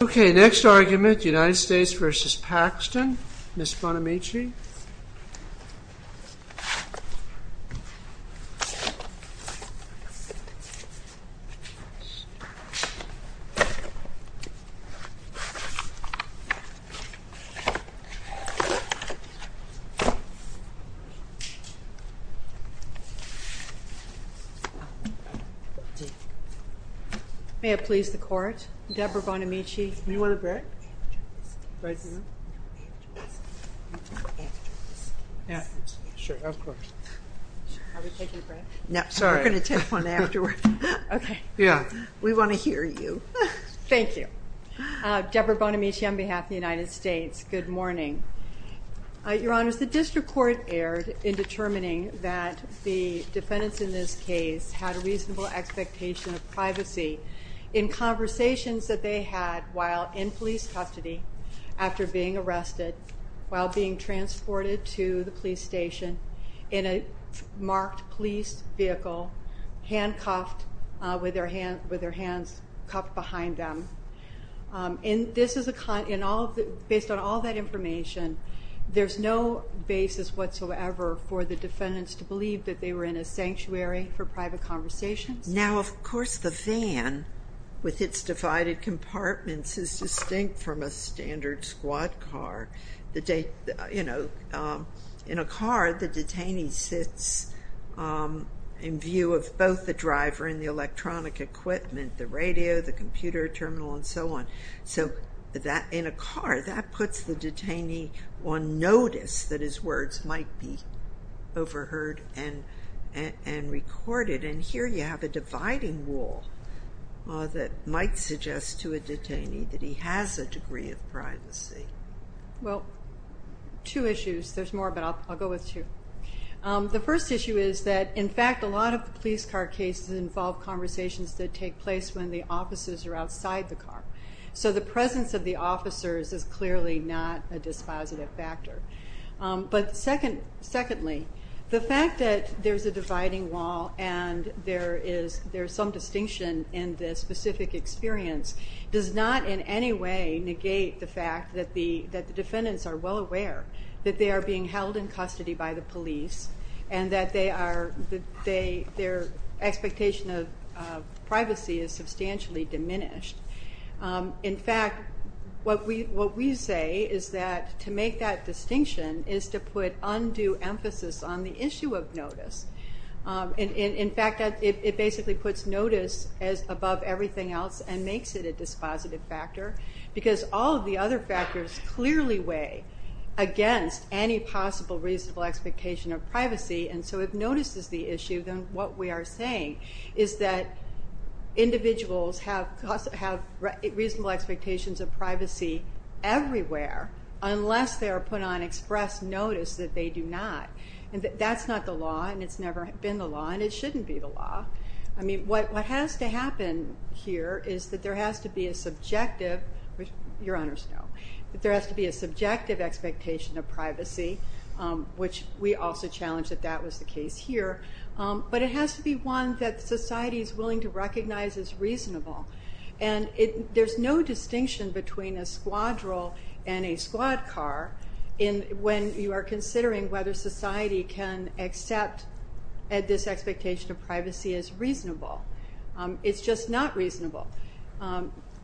Next argument, United States v. Paxton, Ms. Bonamici May it please the Court, Deborah Bonamici Deborah Bonamici, on behalf of the United States, good morning. Your Honor, the District Court erred in determining that the defendants in this case had a reasonable expectation of privacy in conversations that they had while in police custody, after being arrested, while being transported to the police station, in a marked police vehicle, handcuffed with their hands cuffed behind them. This is a, based on all that information, there's no basis whatsoever for the defendants to believe that they were in a sanctuary for private conversations. Now of course the van, with its divided compartments, is distinct from a standard squad car. In a car, the detainee sits in view of both the driver and the electronic equipment, the radio, the computer, terminal, and so on. So in a car, that puts the detainee on notice that his words might be overheard and recorded. And here you have a dividing wall that might suggest to a detainee that he has a degree of privacy. Well, two issues, there's more, but I'll go with two. The first issue is that, in fact, a lot of police car cases involve conversations that take place when the officers are outside the car. So the presence of the officers is clearly not a dispositive factor. But secondly, the fact that there's a dividing wall and there is some distinction in this specific experience does not in any way negate the fact that the defendants are well aware that they are being held in custody by the police and that their expectation of privacy is substantially diminished. In fact, what we say is that to make that distinction is to put undue emphasis on the issue of notice. In fact, it basically puts notice above everything else and makes it a dispositive factor because all of the other factors clearly weigh against any possible reasonable expectation of privacy. And so if notice is the issue, then what we are saying is that individuals have reasonable expectations of privacy everywhere unless they are put on express notice that they do not. And that's not the law and it's never been the law and it shouldn't be the law. I mean, what has to happen here is that there has to be a subjective, which your honors know, that there has to be a subjective expectation of privacy, which we also challenge that that was the case here, but it has to be one that society is willing to recognize as reasonable. And there's no distinction between a squadron and a squad car when you are considering whether society can accept this expectation of privacy as reasonable. It's just not reasonable.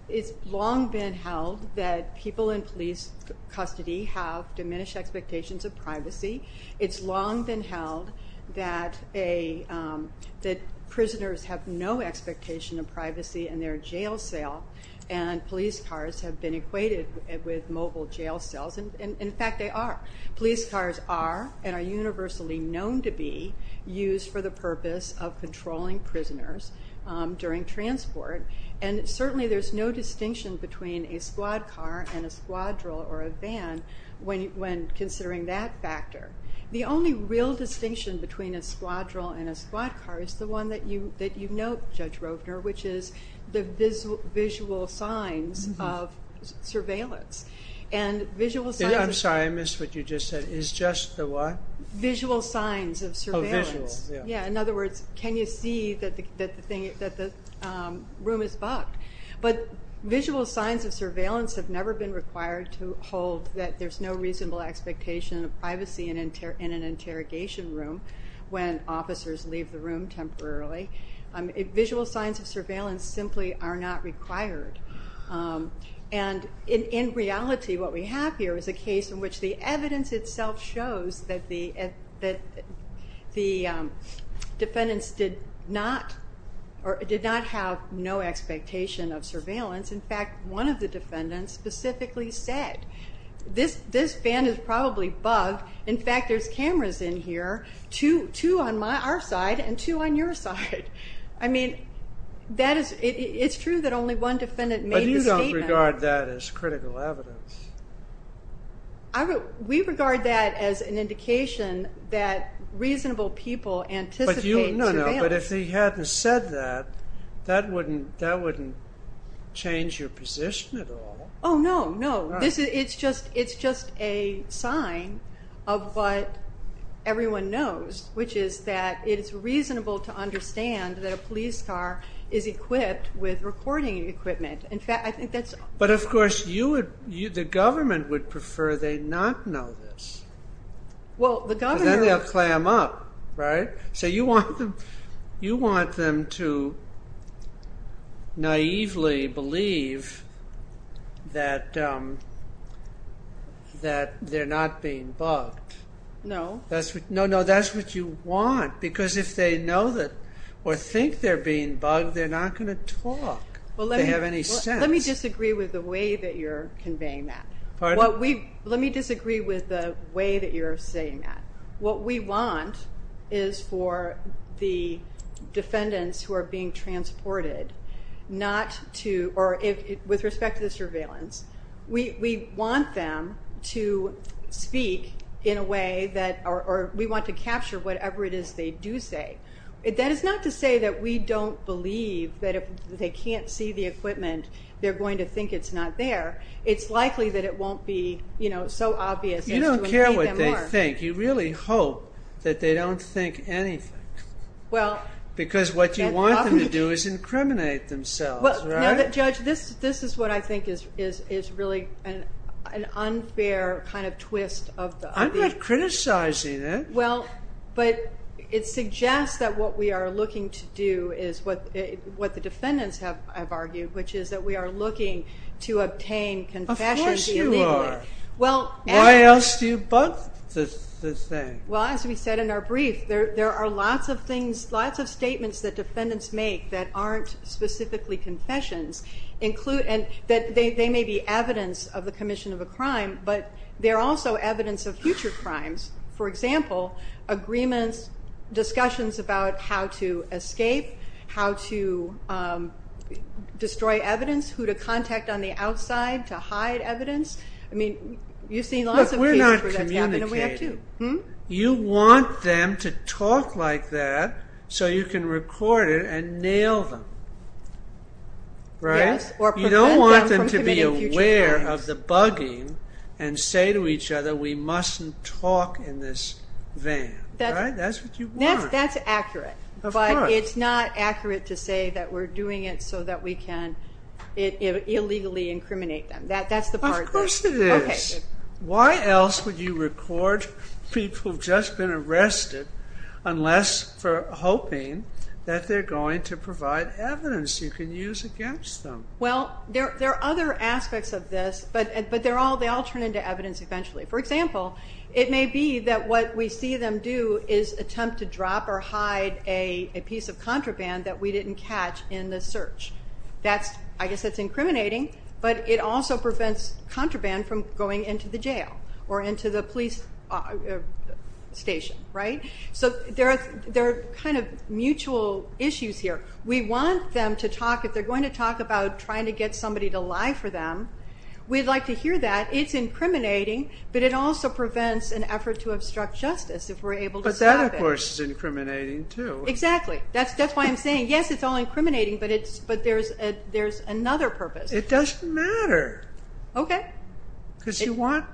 It's long been held that people in police custody have diminished expectations of privacy. It's long been held that prisoners have no expectation of privacy in their jail cell and police cars have been equated with mobile jail cells and in fact they are. Police cars are and are universally known to be used for the purpose of controlling prisoners during transport and certainly there's no distinction between a squad car and a squadron or a van when considering that factor. The only real distinction between a squadron and a squad car is the one that you note, Judge Rovner, which is the visual signs of surveillance. And visual signs of surveillance. I'm sorry, I missed what you just said. Is just the what? Visual signs of surveillance. Oh, visual. Yeah. In other words, can you see that the room is bugged? But visual signs of surveillance have never been required to hold that there's no reasonable expectation of privacy in an interrogation room when officers leave the room temporarily. Visual signs of surveillance simply are not required and in reality what we have here is a case in which the evidence itself shows that the defendants did not have no expectation of surveillance. In fact, one of the defendants specifically said, this van is probably bugged. In fact, there's cameras in here, two on our side and two on your side. I mean, it's true that only one defendant made the statement. But you don't regard that as critical evidence. No, no. But if he hadn't said that, that wouldn't change your position at all. Oh, no. No. It's just a sign of what everyone knows, which is that it's reasonable to understand that a police car is equipped with recording equipment. In fact, I think that's... But of course, the government would prefer they not know this. Well, the government... Then they'll clam up, right? So you want them to naively believe that they're not being bugged. No. No, no. That's what you want. Because if they know that or think they're being bugged, they're not going to talk. They have any sense. Let me disagree with the way that you're conveying that. Pardon? Let me disagree with the way that you're saying that. What we want is for the defendants who are being transported, not to... With respect to the surveillance, we want them to speak in a way that... We want to capture whatever it is they do say. That is not to say that we don't believe that if they can't see the equipment, they're going to think it's not there. It's likely that it won't be so obvious as to who they are. You don't care what they think. You really hope that they don't think anything. Because what you want them to do is incriminate themselves, right? Judge, this is what I think is really an unfair kind of twist of the... I'm not criticizing it. But it suggests that what we are looking to do is what the defendants have argued, which is that we are looking to obtain confessions illegally. Of course you are. Why else do you both say? Well, as we said in our brief, there are lots of statements that defendants make that aren't specifically confessions. They may be evidence of the commission of a crime, but they're also evidence of future crimes. For example, agreements, discussions about how to escape, how to destroy evidence, who to contact on the outside to hide evidence. I mean, you've seen lots of cases where that's happened, and we have too. Look, we're not communicating. You want them to talk like that so you can record it and nail them, right? Yes. Or prevent them from committing future crimes. You don't want them to be aware of the bugging and say to each other, we mustn't talk in this van, right? That's what you want. That's accurate. Of course. But it's not accurate to say that we're doing it so that we can illegally incriminate them. That's the part that... Of course it is. Okay. Why else would you record people who've just been arrested unless for hoping that they're going to provide evidence you can use against them? Well, there are other aspects of this, but they all turn into evidence eventually. For example, it may be that what we see them do is attempt to drop or hide a piece of contraband that we didn't catch in the search. I guess that's incriminating, but it also prevents contraband from going into the jail or into the police station, right? So there are kind of mutual issues here. We want them to talk. If they're going to talk about trying to get somebody to lie for them, we'd like to hear that. It's incriminating, but it also prevents an effort to obstruct justice if we're able to stop it. But that, of course, is incriminating too. Exactly. That's why I'm saying, yes, it's all incriminating, but there's another purpose. It doesn't matter. Okay. Because you want...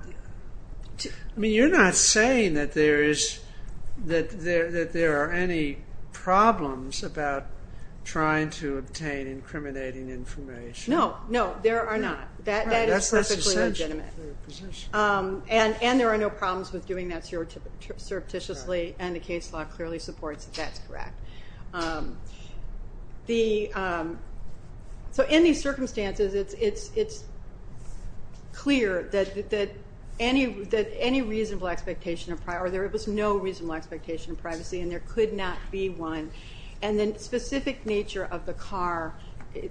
I mean, you're not saying that there are any problems about trying to obtain incriminating information. No, no, there are not. That is perfectly legitimate. That's essential for your position. And there are no problems with doing that surreptitiously, and the case law clearly supports that that's correct. So in these circumstances, it's clear that any reasonable expectation of privacy, or there was no reasonable expectation of privacy, and there could not be one. And the specific nature of the car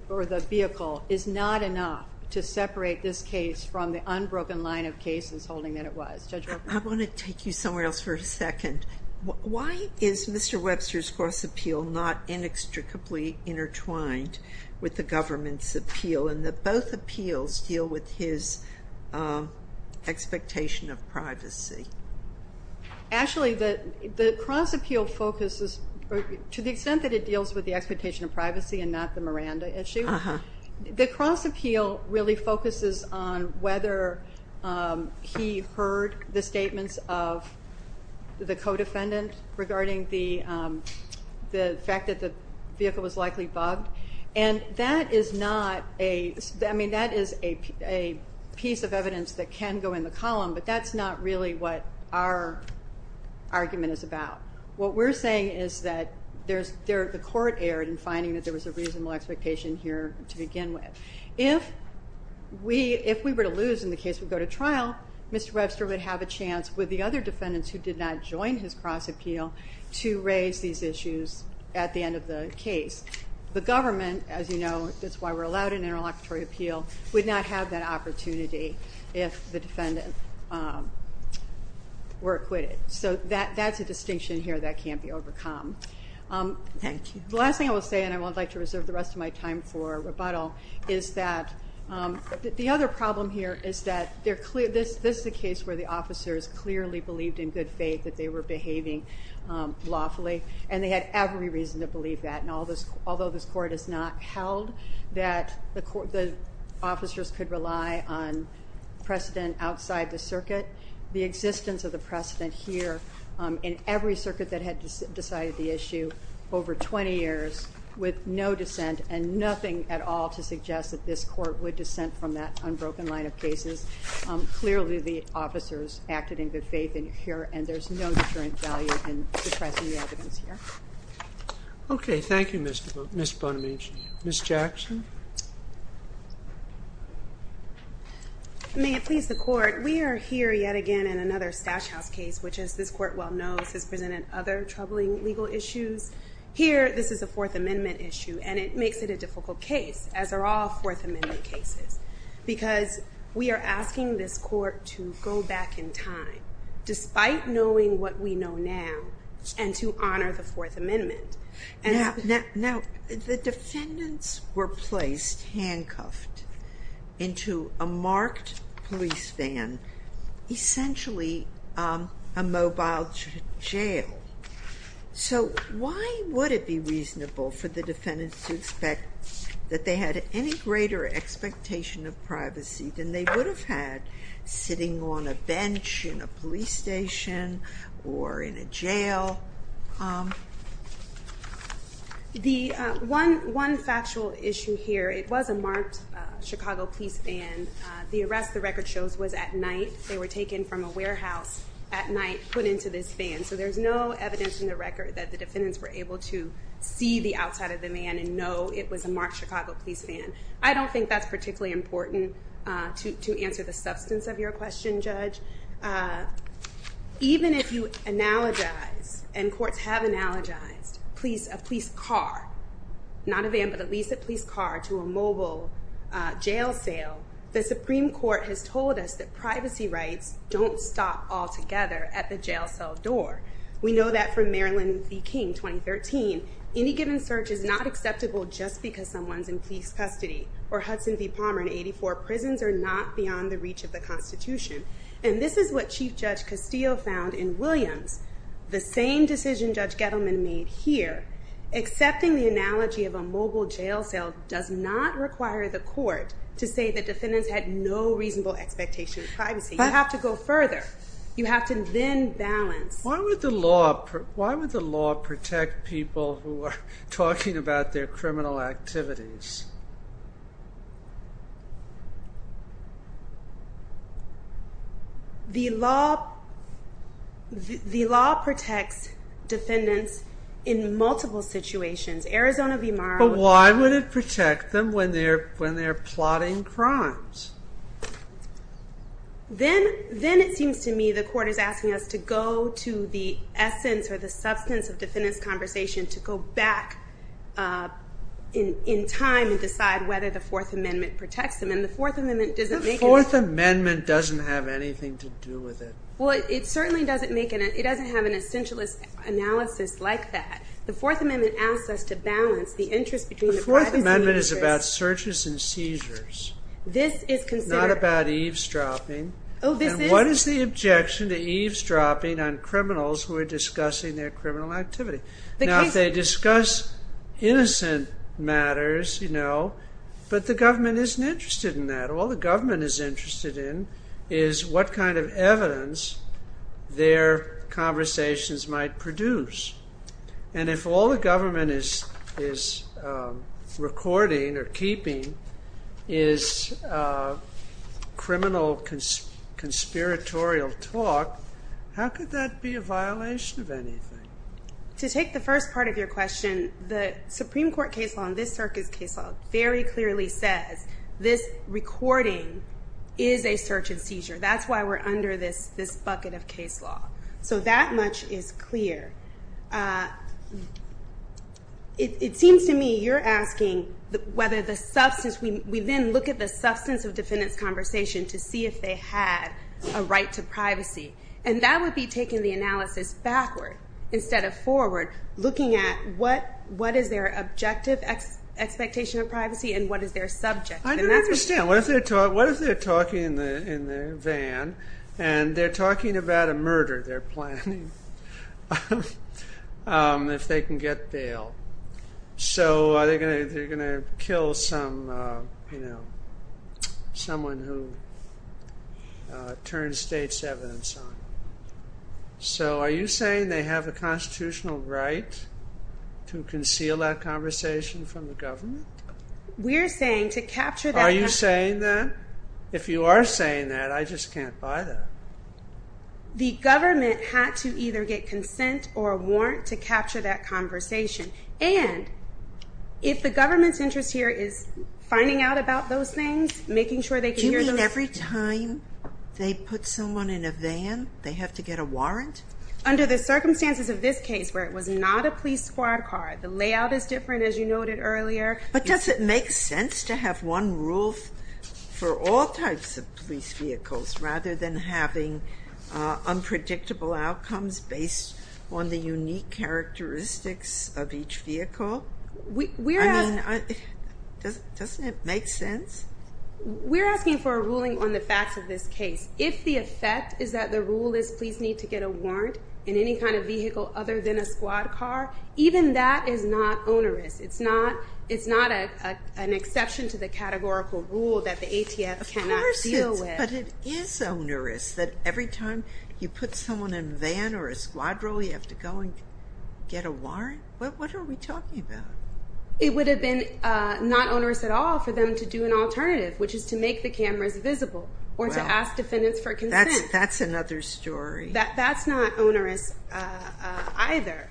or the vehicle is not enough to separate this case from the unbroken line of cases holding that it was. Judge Roper? I want to take you somewhere else for a second. Why is Mr. Webster's cross-appeal not inextricably intertwined with the government's appeal in that both appeals deal with his expectation of privacy? Actually, the cross-appeal focuses... to the extent that it deals with the expectation of privacy and not the Miranda issue, the cross-appeal really focuses on whether he heard the statements of the co-defendant regarding the fact that the vehicle was likely bugged. And that is not a... I mean, that is a piece of evidence that can go in the column, but that's not really what our argument is about. What we're saying is that the court erred in finding that there was a reasonable expectation here to begin with. If we were to lose and the case would go to trial, Mr. Webster would have a chance with the other defendants who did not join his cross-appeal to raise these issues at the end of the case. The government, as you know, that's why we're allowed an interlocutory appeal, would not have that opportunity if the defendant were acquitted. So that's a distinction here that can't be overcome. Thank you. The last thing I will say, and I would like to reserve the rest of my time for rebuttal, is that the other problem here is that this is a case where the officers clearly believed in good faith that they were behaving lawfully, and they had every reason to believe that. Although this court has not held that the officers could rely on precedent outside the circuit, the existence of the precedent here in every circuit that had decided the issue over 20 years with no dissent and nothing at all to suggest that this court would dissent from that unbroken line of cases, clearly the officers acted in good faith in here, and there's no deterrent value in suppressing the evidence here. Okay. Thank you, Ms. Bonamici. Ms. Jackson? May it please the Court, we are here yet again in another Stash House case, which as this case, here this is a Fourth Amendment issue, and it makes it a difficult case, as are all Fourth Amendment cases, because we are asking this court to go back in time, despite knowing what we know now, and to honor the Fourth Amendment. Now, the defendants were placed, handcuffed, into a marked police van, essentially a mobile jail. So, why would it be reasonable for the defendants to expect that they had any greater expectation of privacy than they would have had sitting on a bench in a police station or in a jail? One factual issue here, it was a marked Chicago police van, the arrest the record shows was at night. They were taken from a warehouse at night, put into this van, so there's no evidence in the record that the defendants were able to see the outside of the van and know it was a marked Chicago police van. I don't think that's particularly important to answer the substance of your question, Judge. Even if you analogize, and courts have analogized, a police car, not a van, but at least a police car, to a mobile jail cell, the Supreme Court has told us that privacy rights don't stop altogether at the jail cell door. We know that from Marilyn v. King, 2013, any given search is not acceptable just because someone's in police custody. Or Hudson v. Palmer in 84, prisons are not beyond the reach of the Constitution. The same decision Judge Gettleman made here, accepting the analogy of a mobile jail cell does not require the court to say the defendants had no reasonable expectation of privacy. You have to go further. You have to then balance. Why would the law protect people who are talking about their criminal activities? The law protects defendants in multiple situations. Arizona v. Morrow... But why would it protect them when they're plotting crimes? Then it seems to me the court is asking us to go to the essence or the substance of defendant's conversation, to go back in time and decide whether the Fourth Amendment protects them. The Fourth Amendment doesn't have anything to do with it. It certainly doesn't have an essentialist analysis like that. The Fourth Amendment asks us to balance the interests between the privacy interests. The Fourth Amendment is about searches and seizures, not about eavesdropping. What is the objection to eavesdropping on criminals who are discussing their criminal activity? If they discuss innocent matters, but the government isn't interested in that, all the government is interested in is what kind of evidence their conversations might produce. If all the government is recording or keeping is criminal conspiratorial talk, how could that be a violation of anything? To take the first part of your question, the Supreme Court case law and this circuit's case law very clearly says this recording is a search and seizure. That's why we're under this bucket of case law. That much is clear. It seems to me you're asking whether the substance... We then look at the substance of defendant's conversation to see if they had a right to privacy. That would be taking the analysis backward instead of forward, looking at what is their objective expectation of privacy and what is their subject. I don't understand. What if they're talking in the van and they're talking about a murder they're planning if they can get bail? So they're going to kill someone who turns state's evidence on. So are you saying they have a constitutional right to conceal that conversation from the government? We're saying to capture that- Are you saying that? If you are saying that, I just can't buy that. The government had to either get consent or a warrant to capture that conversation. And if the government's interest here is finding out about those things, making sure they can hear those- Do you mean every time they put someone in a van, they have to get a warrant? Under the circumstances of this case where it was not a police squad car, the layout is different as you noted earlier- Does it make sense to have one rule for all types of police vehicles rather than having unpredictable outcomes based on the unique characteristics of each vehicle? We're asking- I mean, doesn't it make sense? We're asking for a ruling on the facts of this case. If the effect is that the rule is police need to get a warrant in any kind of vehicle other than a squad car, even that is not onerous. It's not an exception to the categorical rule that the ATF cannot deal with. But it is onerous that every time you put someone in a van or a squad car, we have to go and get a warrant? What are we talking about? It would have been not onerous at all for them to do an alternative, which is to make the cameras visible or to ask defendants for consent. That's another story. That's not onerous either.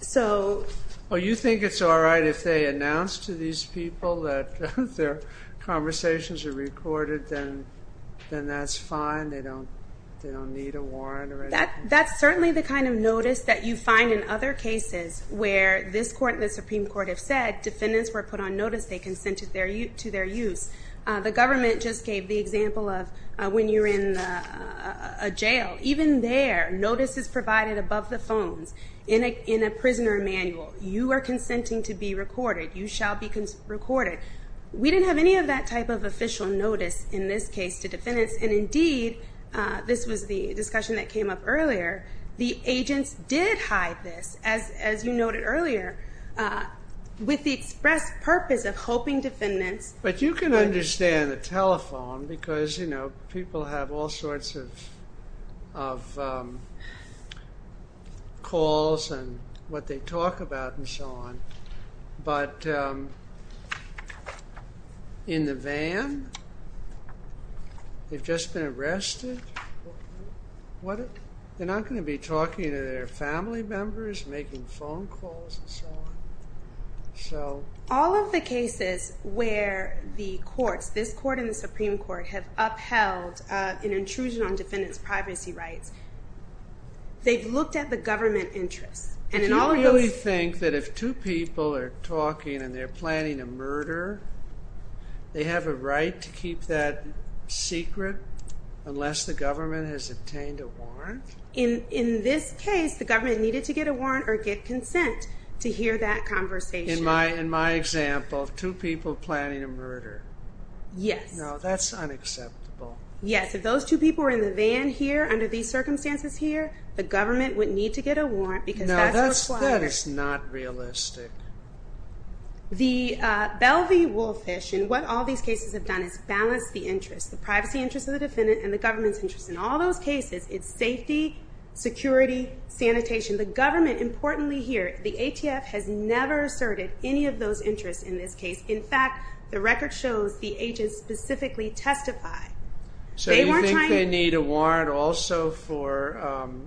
So- Well, you think it's all right if they announce to these people that their conversations are recorded, then that's fine, they don't need a warrant or anything? That's certainly the kind of notice that you find in other cases where this court and the Supreme Court have said defendants were put on notice, they consented to their use. The government just gave the example of when you're in a jail. Even there, notice is provided above the phones in a prisoner manual. You are consenting to be recorded. You shall be recorded. We didn't have any of that type of official notice in this case to defendants, and indeed, this was the discussion that came up earlier, the agents did hide this, as you noted earlier, with the express purpose of hoping defendants- of calls and what they talk about and so on, but in the van, they've just been arrested. They're not going to be talking to their family members, making phone calls and so on? All of the cases where the courts, this court and the Supreme Court, have upheld an intrusion on defendants' privacy rights, they've looked at the government interests. Do you really think that if two people are talking and they're planning a murder, they have a right to keep that secret unless the government has obtained a warrant? In this case, the government needed to get a warrant or get consent to hear that conversation. In my example, two people planning a murder. Yes. No, that's unacceptable. Yes, if those two people were in the van here under these circumstances here, the government would need to get a warrant because that's required. No, that is not realistic. The Belle v. Woolfish, in what all these cases have done, is balance the interests, the privacy interests of the defendant and the government's interests. In all those cases, it's safety, security, sanitation. The government, importantly here, the ATF has never asserted any of those interests in this case. In fact, the record shows the agents specifically testify. So you think they need a warrant also for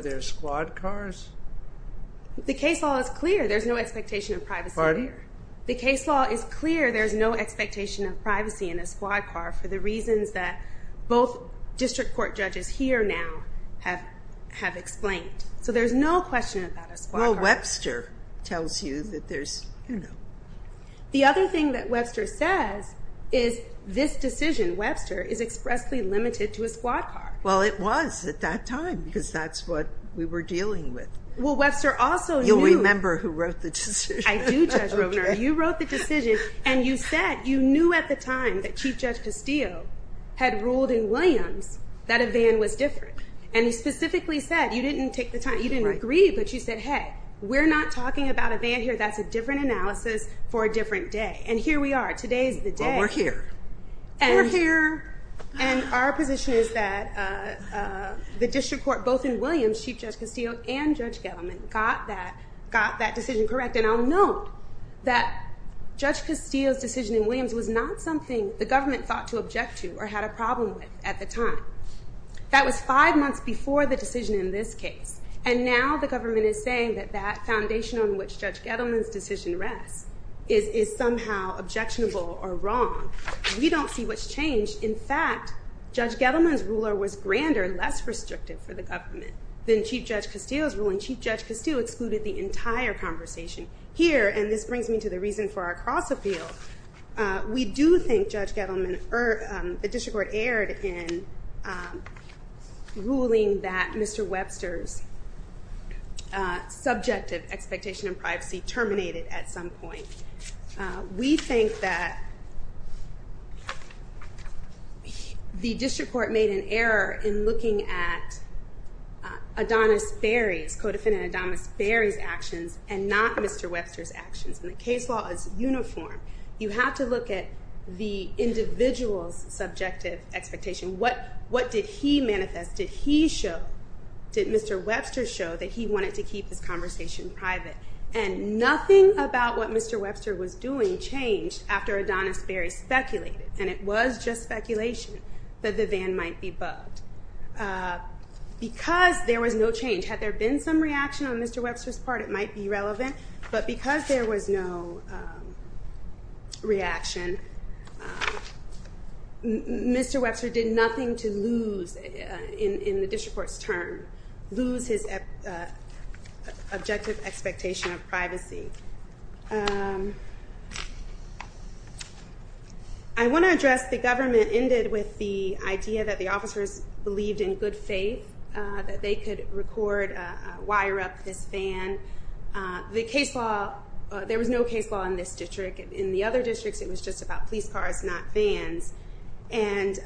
their squad cars? The case law is clear. There's no expectation of privacy there. The case law is clear. There's no expectation of privacy in a squad car for the reasons that both district court judges here now have explained. So there's no question about a squad car. Well, Webster tells you that there's, you know. The other thing that Webster says is this decision, Webster, is expressly limited to a squad car. Well, it was at that time because that's what we were dealing with. Well, Webster also knew. You'll remember who wrote the decision. I do, Judge Rovner. You wrote the decision and you said you knew at the time that Chief Judge Castillo had ruled in Williams that a van was different. And he specifically said you didn't take the time, you didn't agree, but you said, hey, we're not talking about a van here. That's a different analysis for a different day. And here we are. Today's the day. Well, we're here. We're here. And our position is that the district court, both in Williams, Chief Judge Castillo and Judge Gettleman, got that decision correct. And I'll note that Judge Castillo's decision in Williams was not something the government thought to object to or had a problem with at the time. That was five months before the decision in this case. And now the government is saying that that foundation on which Judge Gettleman's decision rests is somehow objectionable or wrong. We don't see what's changed. In fact, Judge Gettleman's ruler was grander, less restrictive for the government than Chief Judge Castillo's rule. And Chief Judge Castillo excluded the entire conversation here. And this brings me to the reason for our cross-appeal. We do think Judge Gettleman or the district court erred in ruling that Mr. Webster's subjective expectation of privacy terminated at some point. We think that the district court made an error in looking at Adonis Berry's, co-defendant Adonis Berry's actions and not Mr. Webster's actions. And the case law is uniform. You have to look at the individual's subjective expectation. What did he manifest? Did he show, did Mr. Webster show that he wanted to keep his conversation private? And nothing about what Mr. Webster was doing changed after Adonis Berry speculated, and it was just speculation, that the van might be bugged. Because there was no change, had there been some reaction on Mr. Webster's part, it might be relevant. But because there was no reaction, Mr. Webster did nothing to lose in the district court's term, lose his objective expectation of privacy. I want to address the government ended with the idea that the officers believed in good faith that they could record, wire up this van. The case law, there was no case law in this district. In the other districts, it was just about police cars, not vans. And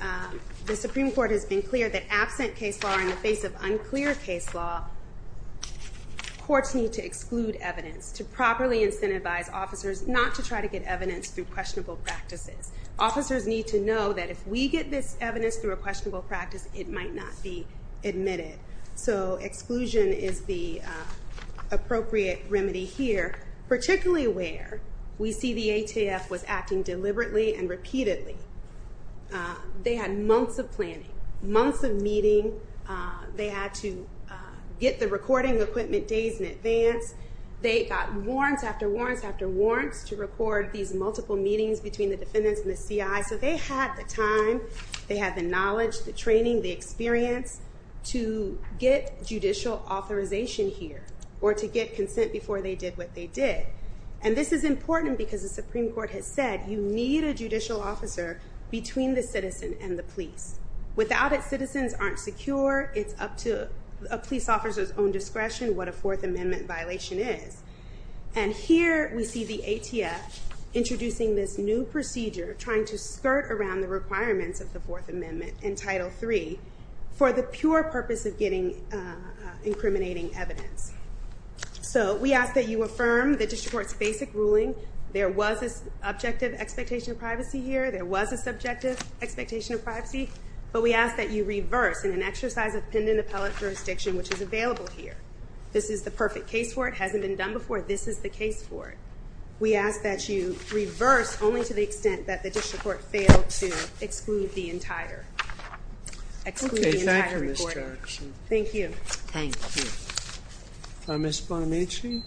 the Supreme Court has been clear that absent case law in the face of unclear case law, courts need to exclude evidence to properly incentivize officers not to try to get evidence through questionable practices. Officers need to know that if we get this evidence through a questionable practice, it might not be admitted. So exclusion is the appropriate remedy here, particularly where we see the ATF was acting deliberately and repeatedly. They had months of planning, months of meeting. They had to get the recording equipment days in advance. They got warrants after warrants after warrants to record these multiple meetings between the defendants and the CI. So they had the time, they had the knowledge, the training, the experience to get judicial authorization here or to get consent before they did what they did. And this is important because the Supreme Court has said you need a judicial officer between the citizen and the police. Without it, citizens aren't secure. It's up to a police officer's own discretion what a Fourth Amendment violation is. And here we see the ATF introducing this new procedure, trying to skirt around the requirements of the Fourth Amendment in Title III for the pure purpose of getting incriminating evidence. So we ask that you affirm the district court's basic ruling. There was an objective expectation of privacy here. There was a subjective expectation of privacy. But we ask that you reverse in an exercise of pendant appellate jurisdiction, which is available here. This is the perfect case for it. It hasn't been done before. This is the case for it. We ask that you reverse only to the extent that the district court failed to exclude the entire recording. Thank you. Thank you. Ms. Bonamici?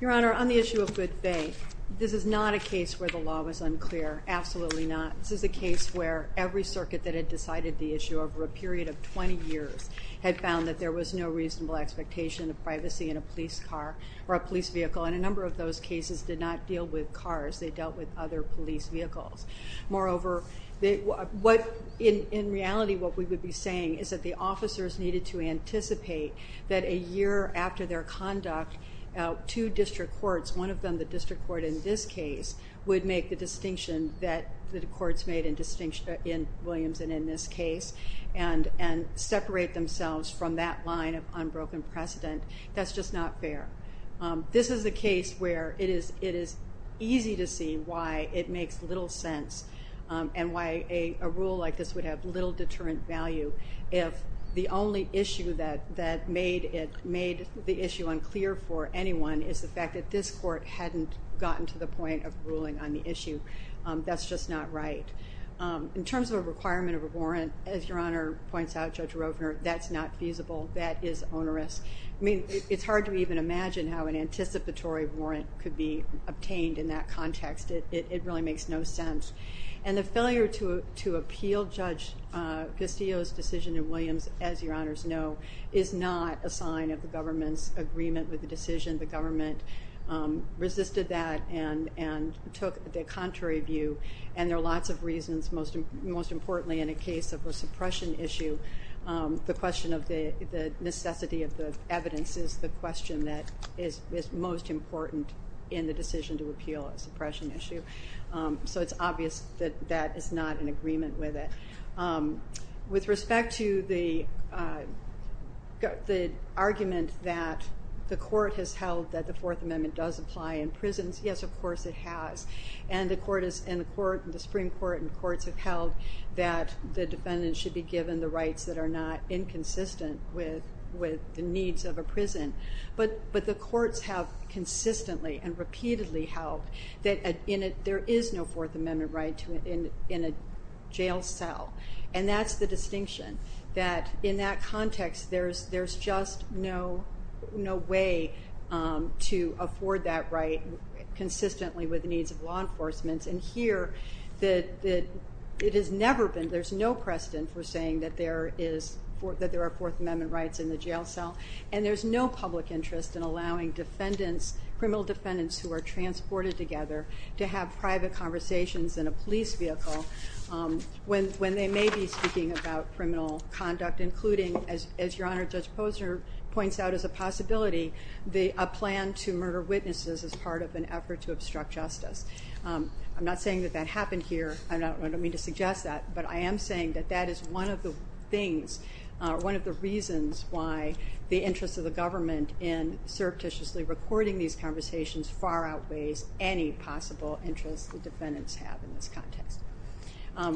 Your Honor, on the issue of good faith, this is not a case where the law was unclear, absolutely not. This is a case where every circuit that had decided the issue over a period of 20 years had found that there was no reasonable expectation of privacy in a police car or a police vehicle. And a number of those cases did not deal with cars. They dealt with other police vehicles. Moreover, in reality, what we would be saying is that the officers needed to anticipate that a year after their conduct, two district courts, one of them the district court in this case, would make the distinction that the courts made in Williams and in this case and separate themselves from that line of unbroken precedent. That's just not fair. This is a case where it is easy to see why it makes little sense and why a rule like this would have little deterrent value if the only issue that made the issue unclear for anyone is the fact that this court hadn't gotten to the point of ruling on the issue. That's just not right. In terms of a requirement of a warrant, as Your Honor points out, Judge Rovner, that's not feasible. That is onerous. I mean, it's hard to even imagine how an anticipatory warrant could be obtained in that context. It really makes no sense. And the failure to appeal Judge Castillo's decision in Williams, as Your Honors know, is not a sign of the government's agreement with the decision. The government resisted that and took the contrary view. And there are lots of reasons, most importantly in a case of a suppression issue, the question of the necessity of the evidence is the question that is most important in the decision to appeal a suppression issue. So it's obvious that that is not in agreement with it. With respect to the argument that the Court has held that the Fourth Amendment does apply in prisons, yes, of course it has. And the Supreme Court and the courts have held that the defendant should be given the rights that are not inconsistent with the needs of a prison. But the courts have consistently and repeatedly held that there is no Fourth Amendment right in a jail cell. And that's the distinction, that in that context there's just no way to afford that right consistently with the needs of law enforcement. And here, it has never been, there's no precedent for saying that there are Fourth Amendment rights in the jail cell. And there's no public interest in allowing defendants, criminal defendants who are transported together to have private conversations in a police vehicle when they may be speaking about criminal conduct, including, as Your Honor, Judge Posner points out as a possibility, a plan to murder witnesses as part of an effort to obstruct justice. I'm not saying that that happened here, I don't mean to suggest that, but I am saying that that is one of the things, one of the reasons why the interest of the government in surreptitiously recording these conversations far outweighs any possible interest the defendants have in this context.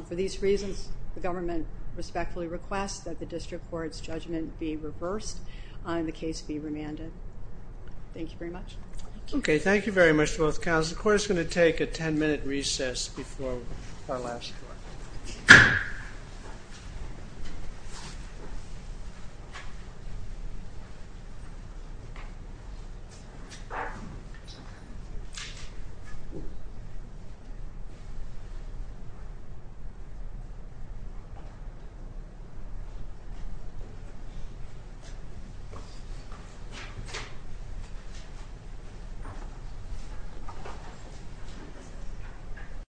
For these reasons, the government respectfully requests that the district court's judgment be reversed and the case be remanded. Thank you very much. Okay, thank you very much to both counsels. The court is going to take a ten-minute recess before our last court. Thank you.